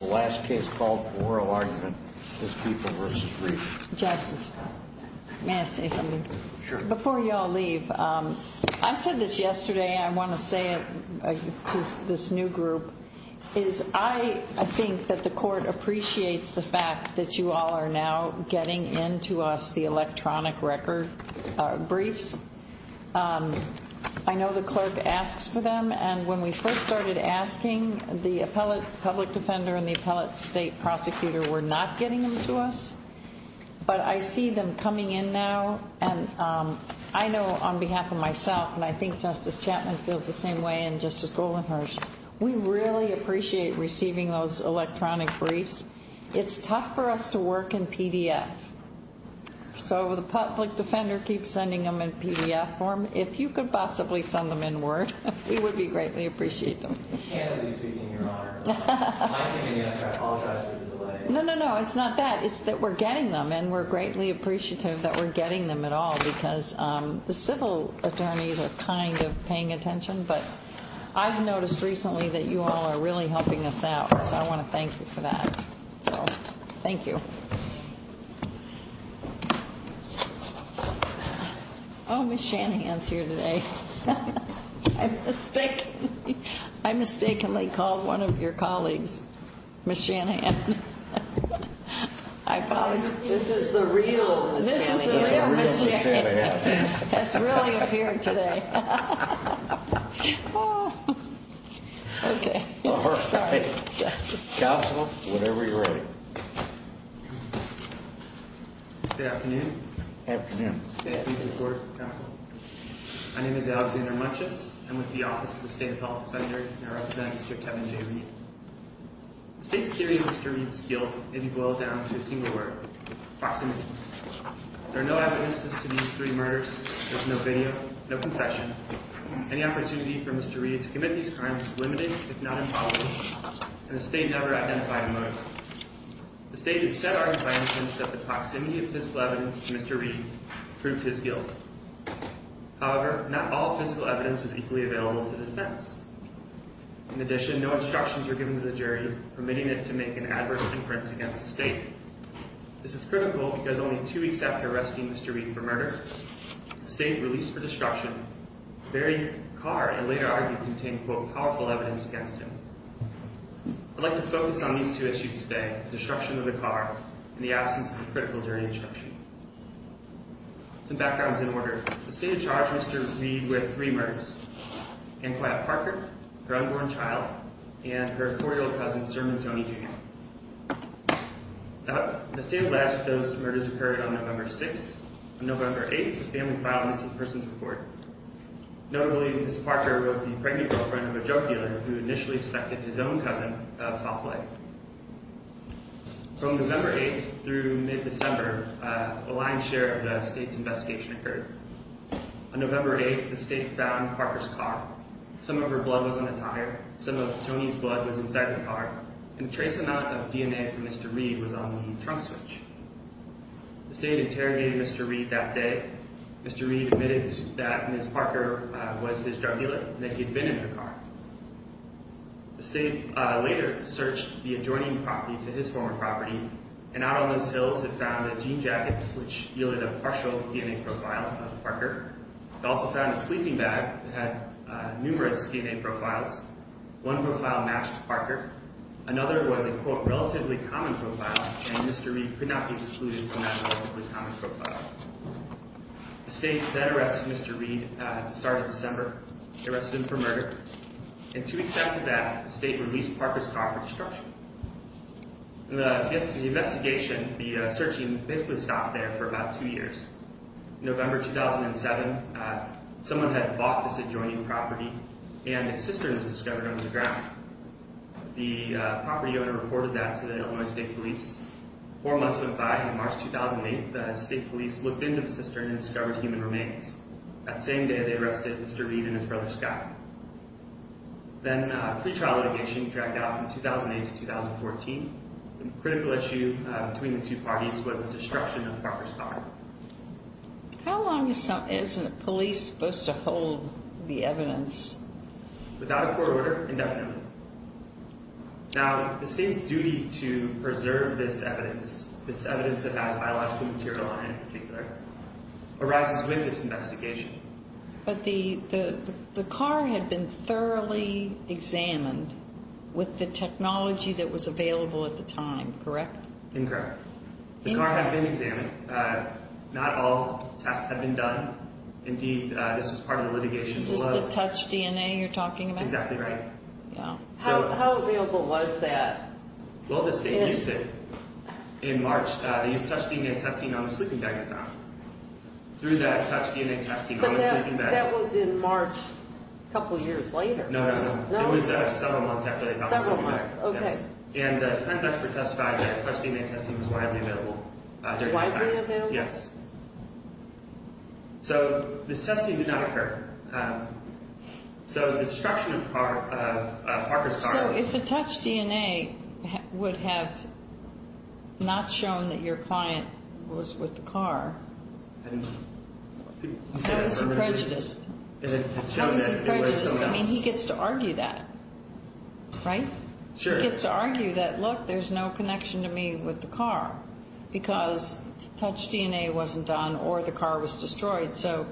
The last case called for oral argument is People v. Reid. Justice, may I say something? Sure. Before you all leave, I said this yesterday and I want to say it to this new group. I think that the court appreciates the fact that you all are now getting into us the electronic record briefs. I know the clerk asks for them. And when we first started asking, the appellate public defender and the appellate state prosecutor were not getting them to us. But I see them coming in now. And I know on behalf of myself, and I think Justice Chapman feels the same way and Justice Goldenhurst, we really appreciate receiving those electronic briefs. It's tough for us to work in PDF. So the public defender keeps sending them in PDF form. If you could possibly send them in word, we would greatly appreciate them. I can't be speaking in your honor. I apologize for the delay. No, no, no, it's not that. It's that we're getting them and we're greatly appreciative that we're getting them at all because the civil attorneys are kind of paying attention. But I've noticed recently that you all are really helping us out. So I want to thank you for that. So thank you. Thank you. Oh, Ms. Shanahan's here today. I mistakenly called one of your colleagues Ms. Shanahan. This is the real Ms. Shanahan. This is the real Ms. Shanahan. That's really up here today. Okay. Counsel. Whenever you're ready. Good afternoon. Good afternoon. May it please the Court, Counsel. My name is Alexander Munches. I'm with the Office of the State Appellate Senator and I represent Mr. Kevin J. Reed. The state's theory of Mr. Reed's guilt may be boiled down to a single word, proximity. There are no evidences to these three murders. There's no video, no confession. Any opportunity for Mr. Reed to commit these crimes is limited, if not impossible, and the state never identified a motive. The state has set out a fine since the proximity of physical evidence to Mr. Reed proved his guilt. However, not all physical evidence was equally available to the defense. In addition, no instructions were given to the jury, permitting it to make an adverse inference against the state. This is critical because only two weeks after arresting Mr. Reed for murder, the state released for destruction the very car it later argued contained, quote, powerful evidence against him. I'd like to focus on these two issues today, the destruction of the car and the absence of a critical jury instruction. Some backgrounds in order. The state had charged Mr. Reed with three murders, Annequiet Parker, her unborn child, and her four-year-old cousin, Sir McDonough Jr. The state alleged those murders occurred on November 6th. On November 8th, the family filed a missing persons report. Notably, Ms. Parker was the pregnant girlfriend of a junk dealer who initially suspected his own cousin of foul play. From November 8th through mid-December, a lion's share of the state's investigation occurred. On November 8th, the state found Parker's car. Some of her blood was on the tire. Some of Tony's blood was inside the car. And a trace amount of DNA from Mr. Reed was on the trunk switch. The state interrogated Mr. Reed that day. Mr. Reed admitted that Ms. Parker was his junk dealer and that he had been in her car. The state later searched the adjoining property to his former property, and out on those hills it found a jean jacket which yielded a partial DNA profile of Parker. It also found a sleeping bag that had numerous DNA profiles. One profile matched Parker. Another was a, quote, relatively common profile, and Mr. Reed could not be excluded from that relatively common profile. The state then arrested Mr. Reed at the start of December. They arrested him for murder. And to accept that, the state released Parker's car for destruction. The investigation, the searching, basically stopped there for about two years. November 2007, someone had bought this adjoining property, and a cistern was discovered under the ground. The property owner reported that to the Illinois State Police. Four months went by, and on March 2008, the state police looked into the cistern and discovered human remains. That same day, they arrested Mr. Reed and his brother, Scott. Then a pretrial litigation dragged out from 2008 to 2014. The critical issue between the two parties was the destruction of Parker's car. How long is a police supposed to hold the evidence? Without a court order, indefinitely. Now, the state's duty to preserve this evidence, this evidence that has biological material on it in particular, arises with its investigation. But the car had been thoroughly examined with the technology that was available at the time, correct? Incorrect. The car had been examined. Not all tests had been done. Indeed, this was part of the litigation. This is the touch DNA you're talking about? Exactly right. Yeah. How available was that? Well, the state used it in March. They used touch DNA testing on the sleeping bag at that time. Through that, touch DNA testing on the sleeping bag. But that was in March, a couple years later. No, no, no. It was several months after they found the sleeping bag. Several months. Okay. And the forensics were testified that touch DNA testing was widely available during that time. Widely available? Yes. So, this testing did not occur. So, the destruction of Parker's car... You said that your client was with the car. I was prejudiced. I was prejudiced. I mean, he gets to argue that. Right? Sure. He gets to argue that, look, there's no connection to me with the car because touch DNA wasn't done or the car was destroyed. So,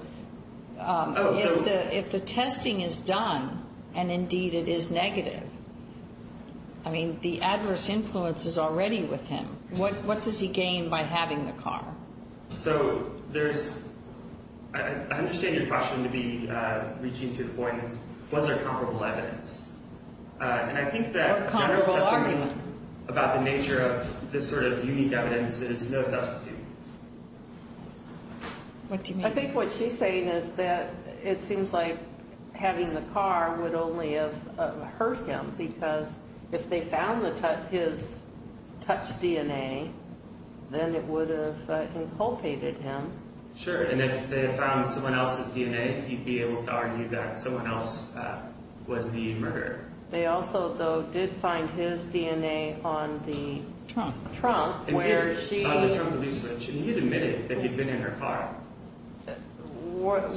if the testing is done and, indeed, it is negative, I mean, the adverse influence is already with him. What does he gain by having the car? So, there's... I understand your question to be reaching to the point, was there comparable evidence? And I think that general testimony about the nature of this sort of unique evidence is no substitute. What do you mean? I think what she's saying is that it seems like having the car would only have hurt him because if they found his touch DNA, then it would have inculcated him. Sure, and if they found someone else's DNA, he'd be able to argue that someone else was the murderer. They also, though, did find his DNA on the trunk where she... On the trunk release switch. And he had admitted that he'd been in her car.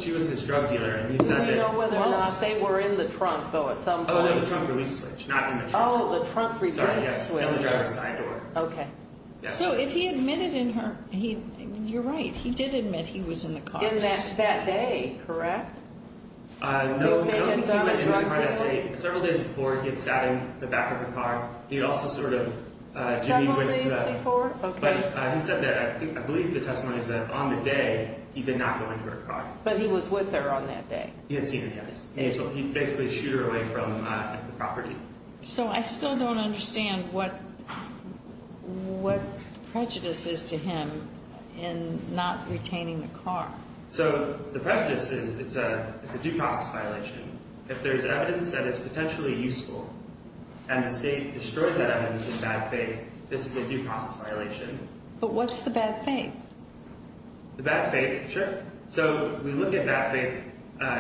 She was his drug dealer and he said that... We don't know whether or not they were in the trunk, though, at some point. Oh, no, the trunk release switch, not in the trunk. Oh, the trunk release switch. Sorry, yes. That would drive her side door. Okay. So, if he admitted in her... You're right, he did admit he was in the car. In that day, correct? No, he had not been in the car that day. Several days before, he had sat in the back of the car. He had also sort of... Several days before, okay. But he said that, I believe the testimony is that on the day, he did not go into her car. But he was with her on that day. He had seen her, yes. He basically shooed her away from the property. So, I still don't understand what prejudice is to him in not retaining the car. So, the prejudice is it's a due process violation. If there's evidence that it's potentially useful and the state destroys that evidence in bad faith, this is a due process violation. But what's the bad faith? The bad faith, sure. So, we look at bad faith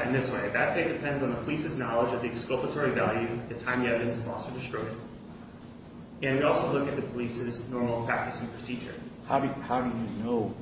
in this way. Bad faith depends on the police's knowledge of the exculpatory value the time the evidence is lost or destroyed. And we also look at the police's normal practice and procedure. How do you know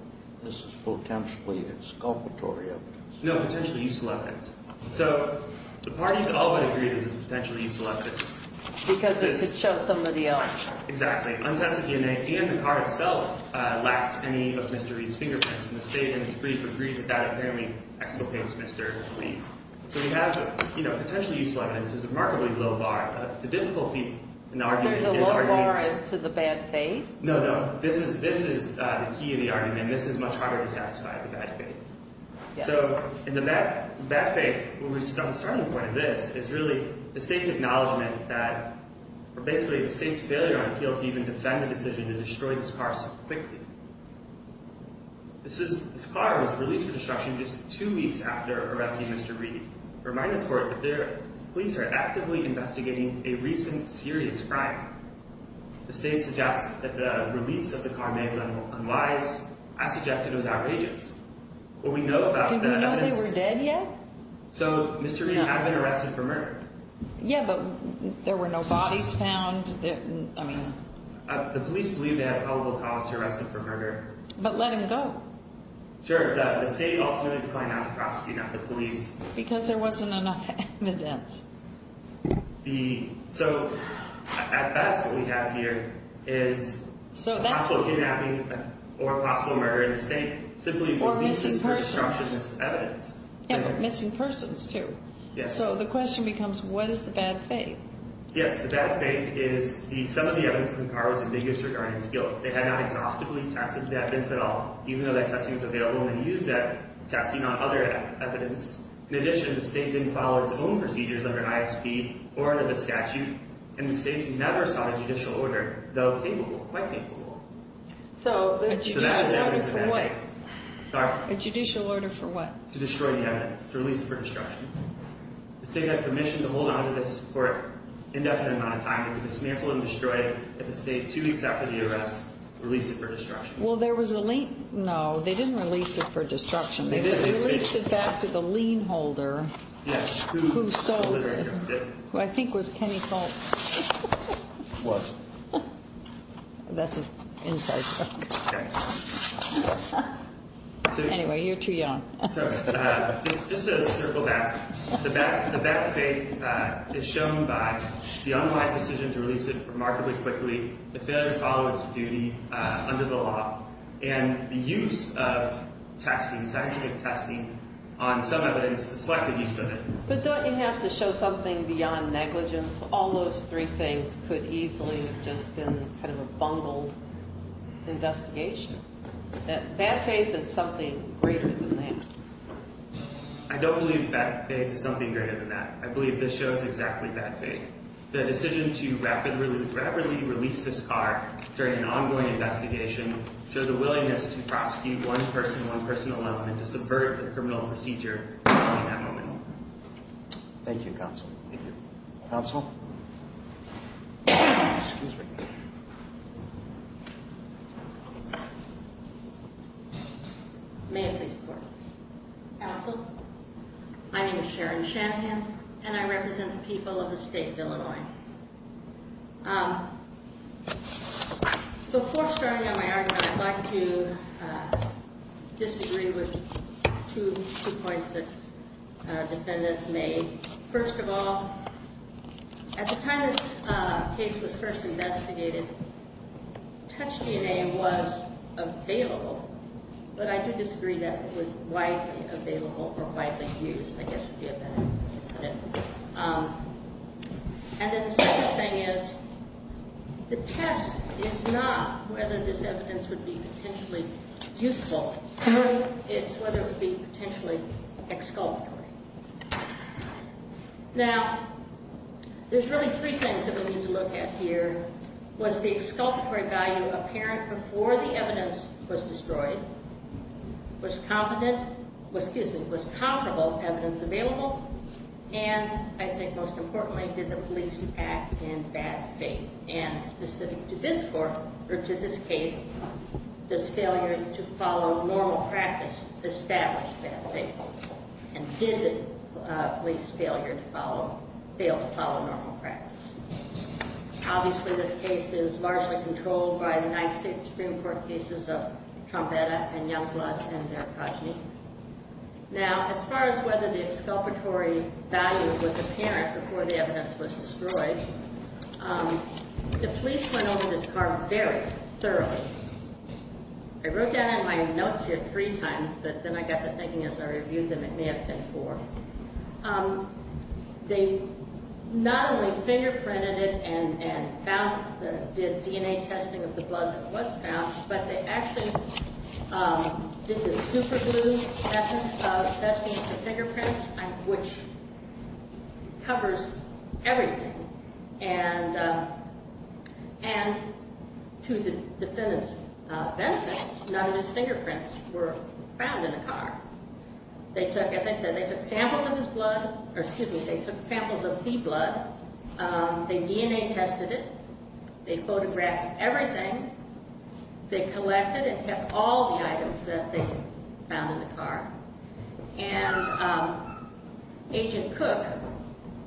this is potentially exculpatory evidence? No, potentially useful evidence. So, the parties all but agreed this is potentially useful evidence. Because it showed somebody else. Exactly. The untested DNA and the car itself lacked any of Mr. Lee's fingerprints. And the state, in its brief, agrees that that apparently exculpates Mr. Lee. So, we have, you know, potentially useful evidence. There's a remarkably low bar. The difficulty in the argument is... There's a low bar as to the bad faith? No, no. This is the key of the argument. This is much harder to satisfy, the bad faith. So, in the bad faith, where we start the point of this is really the state's acknowledgement that, or basically the state's failure on appeal to even defend the decision to destroy this car so quickly. This car was released for destruction just two weeks after arresting Mr. Reed. Remind this court that the police are actively investigating a recent serious crime. The state suggests that the release of the car may have been unwise. I suggest it was outrageous. What we know about the evidence... Did we know they were dead yet? So, Mr. Reed had been arrested for murder. Yeah, but there were no bodies found. I mean... The police believe they had a probable cause to arrest him for murder. But let him go. Sure, but the state ultimately declined to prosecute the police. Because there wasn't enough evidence. So, at best, what we have here is possible kidnapping or possible murder in the state, simply... Or missing persons. ...released for destruction as evidence. Yeah, but missing persons, too. Yes. So, the question becomes, what is the bad faith? Yes, the bad faith is some of the evidence in the car was ambiguous regarding skill. They had not exhaustively tested the evidence at all, even though that testing was available. And they used that testing on other evidence. In addition, the state didn't follow its own procedures under an ISP or under the statute. And the state never sought a judicial order, though capable, quite capable. So, a judicial order for what? Sorry? A judicial order for what? To destroy the evidence. To release it for destruction. The state had permission to hold on to this for an indefinite amount of time. It was dismantled and destroyed at the state two weeks after the arrest. Released it for destruction. Well, there was a lien. No, they didn't release it for destruction. They released it back to the lien holder. Yes. Who sold it. Who I think was Kenny Colts. Was. That's an inside joke. Okay. Anyway, you're too young. Just to circle back. The bad faith is shown by the unwise decision to release it remarkably quickly, the failure to follow its duty under the law, and the use of testing, scientific testing, on some evidence, the selective use of it. But don't you have to show something beyond negligence? All those three things could easily have just been kind of a bungled investigation. Bad faith is something greater than that. I don't believe bad faith is something greater than that. I believe this shows exactly bad faith. The decision to rapidly release this car during an ongoing investigation shows a willingness to prosecute one person, one person alone, and to subvert the criminal procedure at that moment. Thank you, counsel. Thank you. Counsel? Excuse me. May I please start? Counsel, my name is Sharon Shanahan, and I represent the people of the state of Illinois. Before starting on my argument, I'd like to disagree with two points that our defendants made. First of all, at the time this case was first investigated, touch DNA was available, but I do disagree that it was widely available or widely used. I guess would be a better way to put it. And then the second thing is the test is not whether this evidence would be potentially useful. It's whether it would be potentially exculpatory. Now, there's really three things that we need to look at here. Was the exculpatory value apparent before the evidence was destroyed? Was competent, excuse me, was comparable evidence available? And I think most importantly, did the police act in bad faith? And specific to this court, or to this case, does failure to follow normal practice establish bad faith? And did the police fail to follow normal practice? Obviously, this case is largely controlled by the United States Supreme Court cases of Trombetta and Youngblood and Veracruz. Now, as far as whether the exculpatory value was apparent before the evidence was destroyed, the police went over this car very thoroughly. I wrote down in my notes here three times, but then I got to thinking as I reviewed them, it may have been four. They not only fingerprinted it and found the DNA testing of the blood that was found, but they actually did the superglue testing for fingerprints, which covers everything. And to the defendant's benefit, none of his fingerprints were found in the car. They took, as I said, they took samples of his blood, or excuse me, they took samples of the blood, they DNA tested it, they photographed everything, they collected and kept all the items that they found in the car. And Agent Cook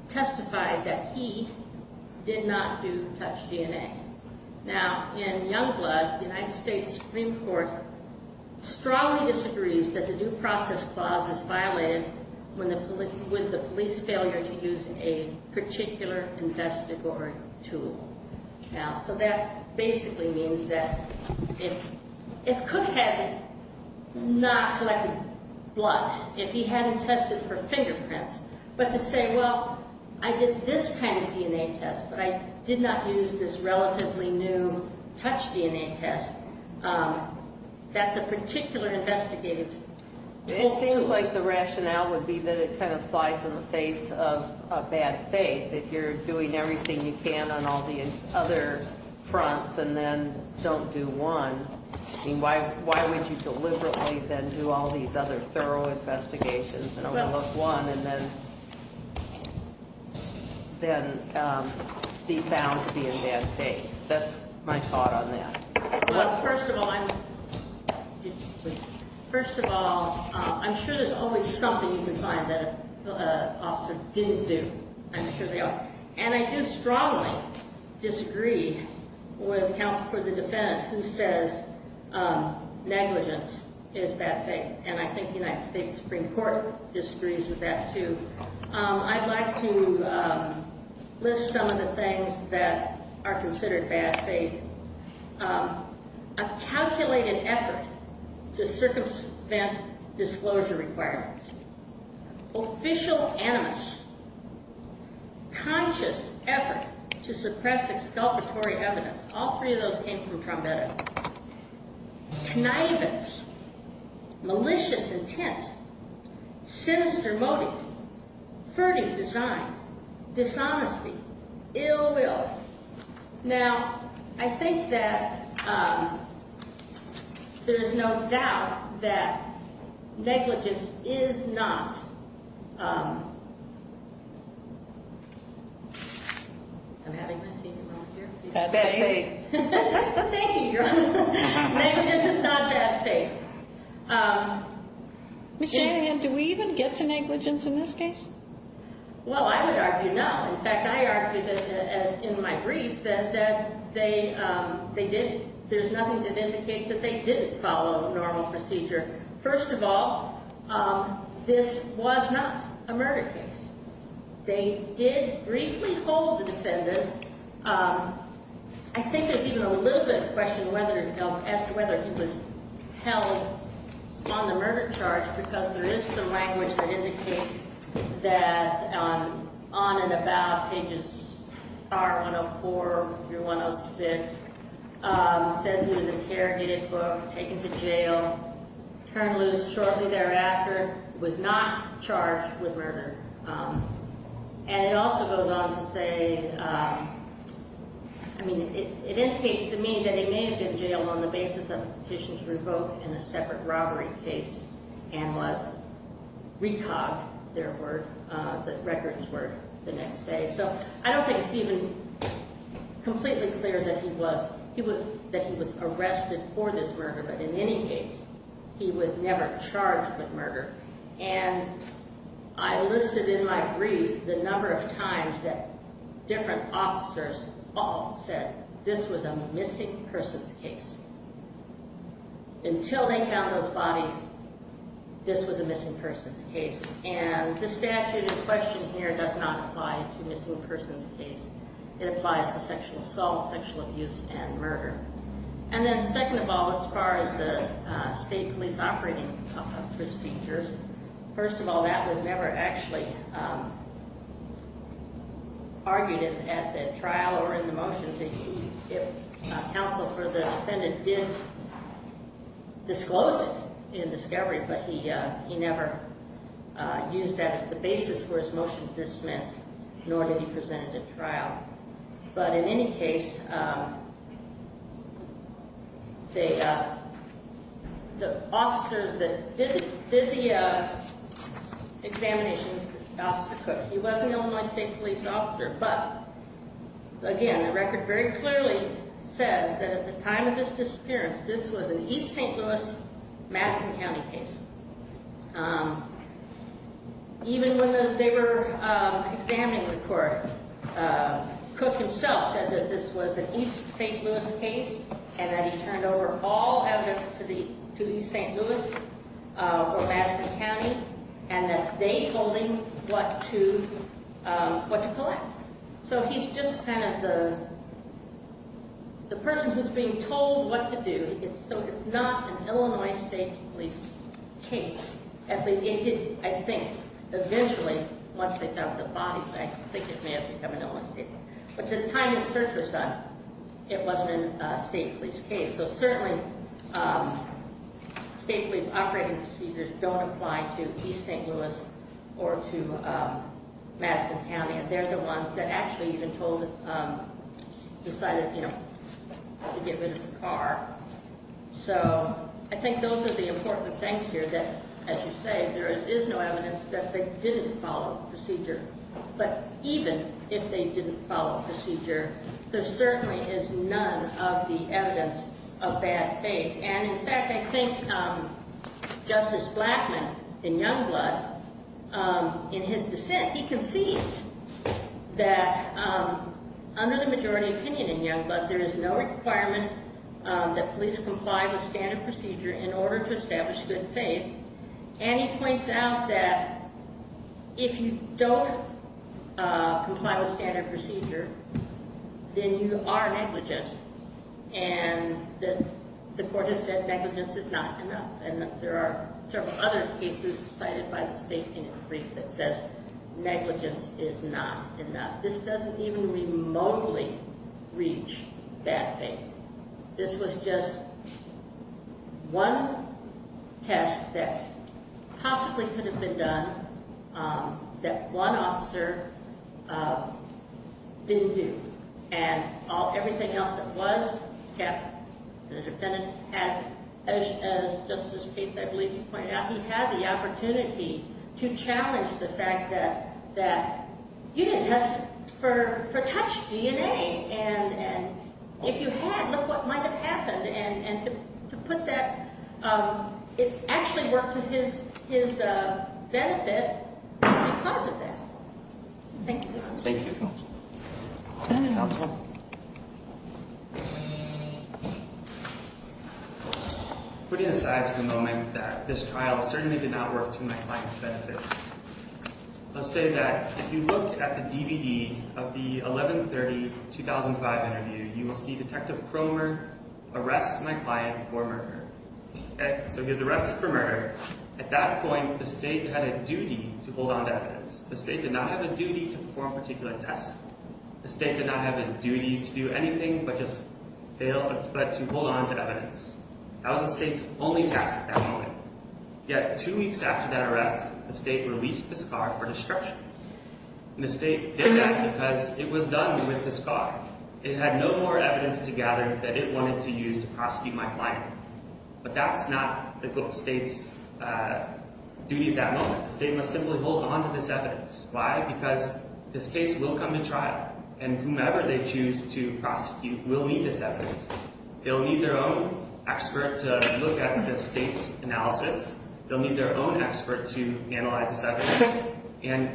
testified that he did not do touch DNA. Now, in Youngblood, the United States Supreme Court strongly disagrees that the new process clause is violated with the police failure to use a particular investigatory tool. Now, so that basically means that if Cook had not collected blood, if he hadn't tested for fingerprints, but to say, well, I did this kind of DNA test, but I did not use this relatively new touch DNA test, that's a particular investigative tool. It seems like the rationale would be that it kind of flies in the face of bad faith, that you're doing everything you can on all the other fronts and then don't do one. I mean, why would you deliberately then do all these other thorough investigations and only look one and then be found to be in bad faith? That's my thought on that. Well, first of all, I'm sure there's always something you can find that an officer didn't do. I'm sure they are. And I do strongly disagree with counsel for the defendant who says negligence is bad faith. And I think the United States Supreme Court disagrees with that too. I'd like to list some of the things that are considered bad faith. A calculated effort to circumvent disclosure requirements. Official animus. Conscious effort to suppress exculpatory evidence. All three of those came from Trombetta. Naivete. Malicious intent. Sinister motive. Furtive design. Dishonesty. Ill will. Now, I think that there is no doubt that negligence is not bad faith. Thank you, Your Honor. Negligence is not bad faith. Ms. Shanahan, do we even get to negligence in this case? Well, I would argue no. In fact, I argue in my brief that there's nothing that indicates that they didn't follow normal procedure. First of all, this was not a murder case. They did briefly hold the defendant. I think there's even a little bit of a question as to whether he was held on the murder charge because there is some language that indicates that on and about pages 104 through 106, it says he was interrogated for, taken to jail, turned loose shortly thereafter, was not charged with murder. And it also goes on to say, I mean, it indicates to me that he may have been jailed on the basis of a petition to revoke in a separate robbery case and was re-cogged, the records were, the next day. So I don't think it's even completely clear that he was arrested for this murder. But in any case, he was never charged with murder. And I listed in my brief the number of times that different officers all said this was a missing persons case. Until they found those bodies, this was a missing persons case. And the statute in question here does not apply to missing persons case. It applies to sexual assault, sexual abuse, and murder. And then second of all, as far as the state police operating procedures, first of all, that was never actually argued at the trial or in the motions. If counsel for the defendant did disclose it in discovery, but he never used that as the basis for his motion to dismiss, nor did he present it at trial. But in any case, the officers that did the examinations, Officer Cook, he was an Illinois State Police officer. But again, the record very clearly says that at the time of his disappearance, this was an East St. Louis, Madison County case. Even when they were examining the court, Cook himself said that this was an East St. Louis case and that he turned over all evidence to East St. Louis or Madison County and that they told him what to collect. So he's just kind of the person who's being told what to do. So it's not an Illinois State Police case. At least it didn't, I think. Eventually, once they found the bodies, I think it may have become an Illinois State Police. But at the time the search was done, it wasn't a state police case. So certainly, state police operating procedures don't apply to East St. Louis or to Madison County. And they're the ones that actually even decided to get rid of the car. So I think those are the important things here that, as you say, there is no evidence that they didn't follow the procedure. But even if they didn't follow the procedure, there certainly is none of the evidence of bad faith. And in fact, I think Justice Blackmun in Youngblood, in his dissent, he concedes that under the majority opinion in Youngblood, there is no requirement that police comply with standard procedure in order to establish good faith. And he points out that if you don't comply with standard procedure, then you are negligent. And the court has said negligence is not enough. And there are several other cases cited by the state in its brief that says negligence is not enough. This doesn't even remotely reach bad faith. This was just one test that possibly could have been done that one officer didn't do. And everything else that was kept, the defendant had, as Justice Cates, I believe, pointed out, he had the opportunity to challenge the fact that you didn't test for touched DNA. And if you had, look what might have happened. And to put that – it actually worked to his benefit because of that. Thank you. Thank you. Thank you. Putting aside for the moment that this trial certainly did not work to my client's benefit, I'll say that if you look at the DVD of the 11-30-2005 interview, you will see Detective Cromer arrest my client for murder. So he was arrested for murder. At that point, the state had a duty to hold on to evidence. The state did not have a duty to perform a particular test. The state did not have a duty to do anything but just hold on to evidence. That was the state's only task at that moment. Yet two weeks after that arrest, the state released this car for destruction. And the state did that because it was done with this car. It had no more evidence to gather that it wanted to use to prosecute my client. But that's not the state's duty at that moment. The state must simply hold on to this evidence. Why? Because this case will come to trial, and whomever they choose to prosecute will need this evidence. They'll need their own expert to look at the state's analysis. They'll need their own expert to analyze this evidence. And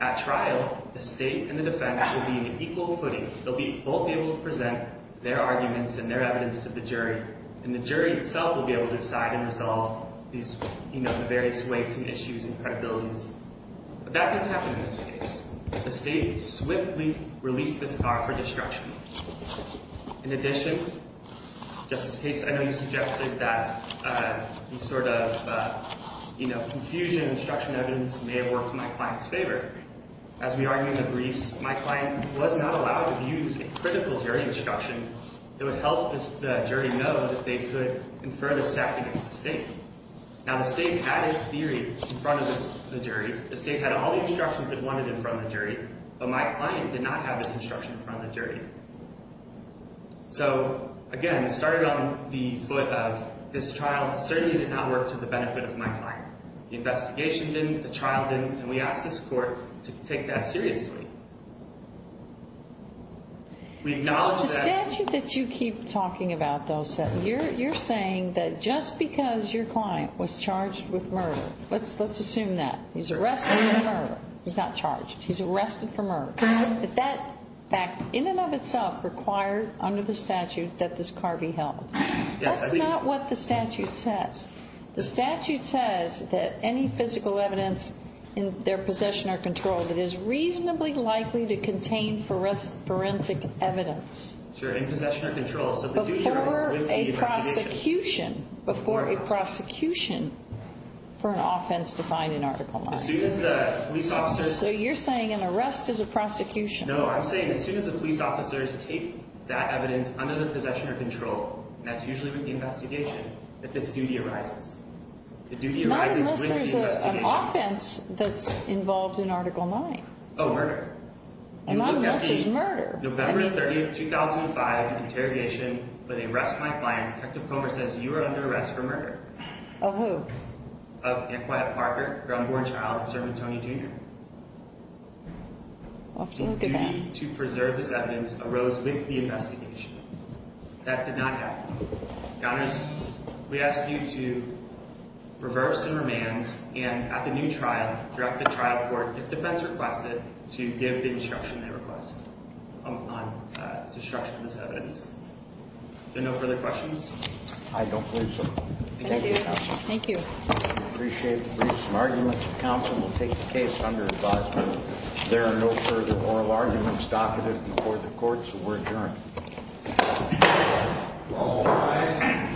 at trial, the state and the defense will be in equal footing. They'll both be able to present their arguments and their evidence to the jury, and the jury itself will be able to decide and resolve these various weights and issues and credibilities. But that didn't happen in this case. The state swiftly released this car for destruction. In addition, Justice Cates, I know you suggested that the sort of confusion and destruction of evidence may have worked in my client's favor. As we argue in the briefs, my client was not allowed to use a critical jury instruction. It would help the jury know that they could confer this fact against the state. Now, the state had its theory in front of the jury. The state had all the instructions it wanted in front of the jury. But my client did not have this instruction in front of the jury. So, again, we started on the foot of this trial certainly did not work to the benefit of my client. The investigation didn't. The trial didn't. And we asked this court to take that seriously. The statute that you keep talking about, though, you're saying that just because your client was charged with murder, let's assume that. He's arrested for murder. He's not charged. He's arrested for murder. That in and of itself required under the statute that this car be held. That's not what the statute says. The statute says that any physical evidence in their possession or control that is reasonably likely to contain forensic evidence. Sure. In possession or control. Before a prosecution. Before a prosecution for an offense defined in Article 9. As soon as the police officers. So you're saying an arrest is a prosecution. No, I'm saying as soon as the police officers take that evidence under the possession or control. And that's usually with the investigation that this duty arises. The duty arises with the investigation. Not unless there's an offense that's involved in Article 9. Oh, murder. Not unless there's murder. You look at the November 30th, 2005 interrogation where they arrest my client. Detective Comer says you are under arrest for murder. Of who? Of Antquiet Parker, ground-born child of servant Tony Jr. I'll have to look it up. The duty to preserve this evidence arose with the investigation. That did not happen. Counters, we ask you to reverse and remand and at the new trial, direct the trial court, if defense requests it, to give the instruction they request on destruction of this evidence. Is there no further questions? I don't believe so. Thank you, counsel. Thank you. I appreciate the briefs and arguments. The counsel will take the case under advisement. There are no further oral arguments docketed before the court, so we're adjourned. All rise.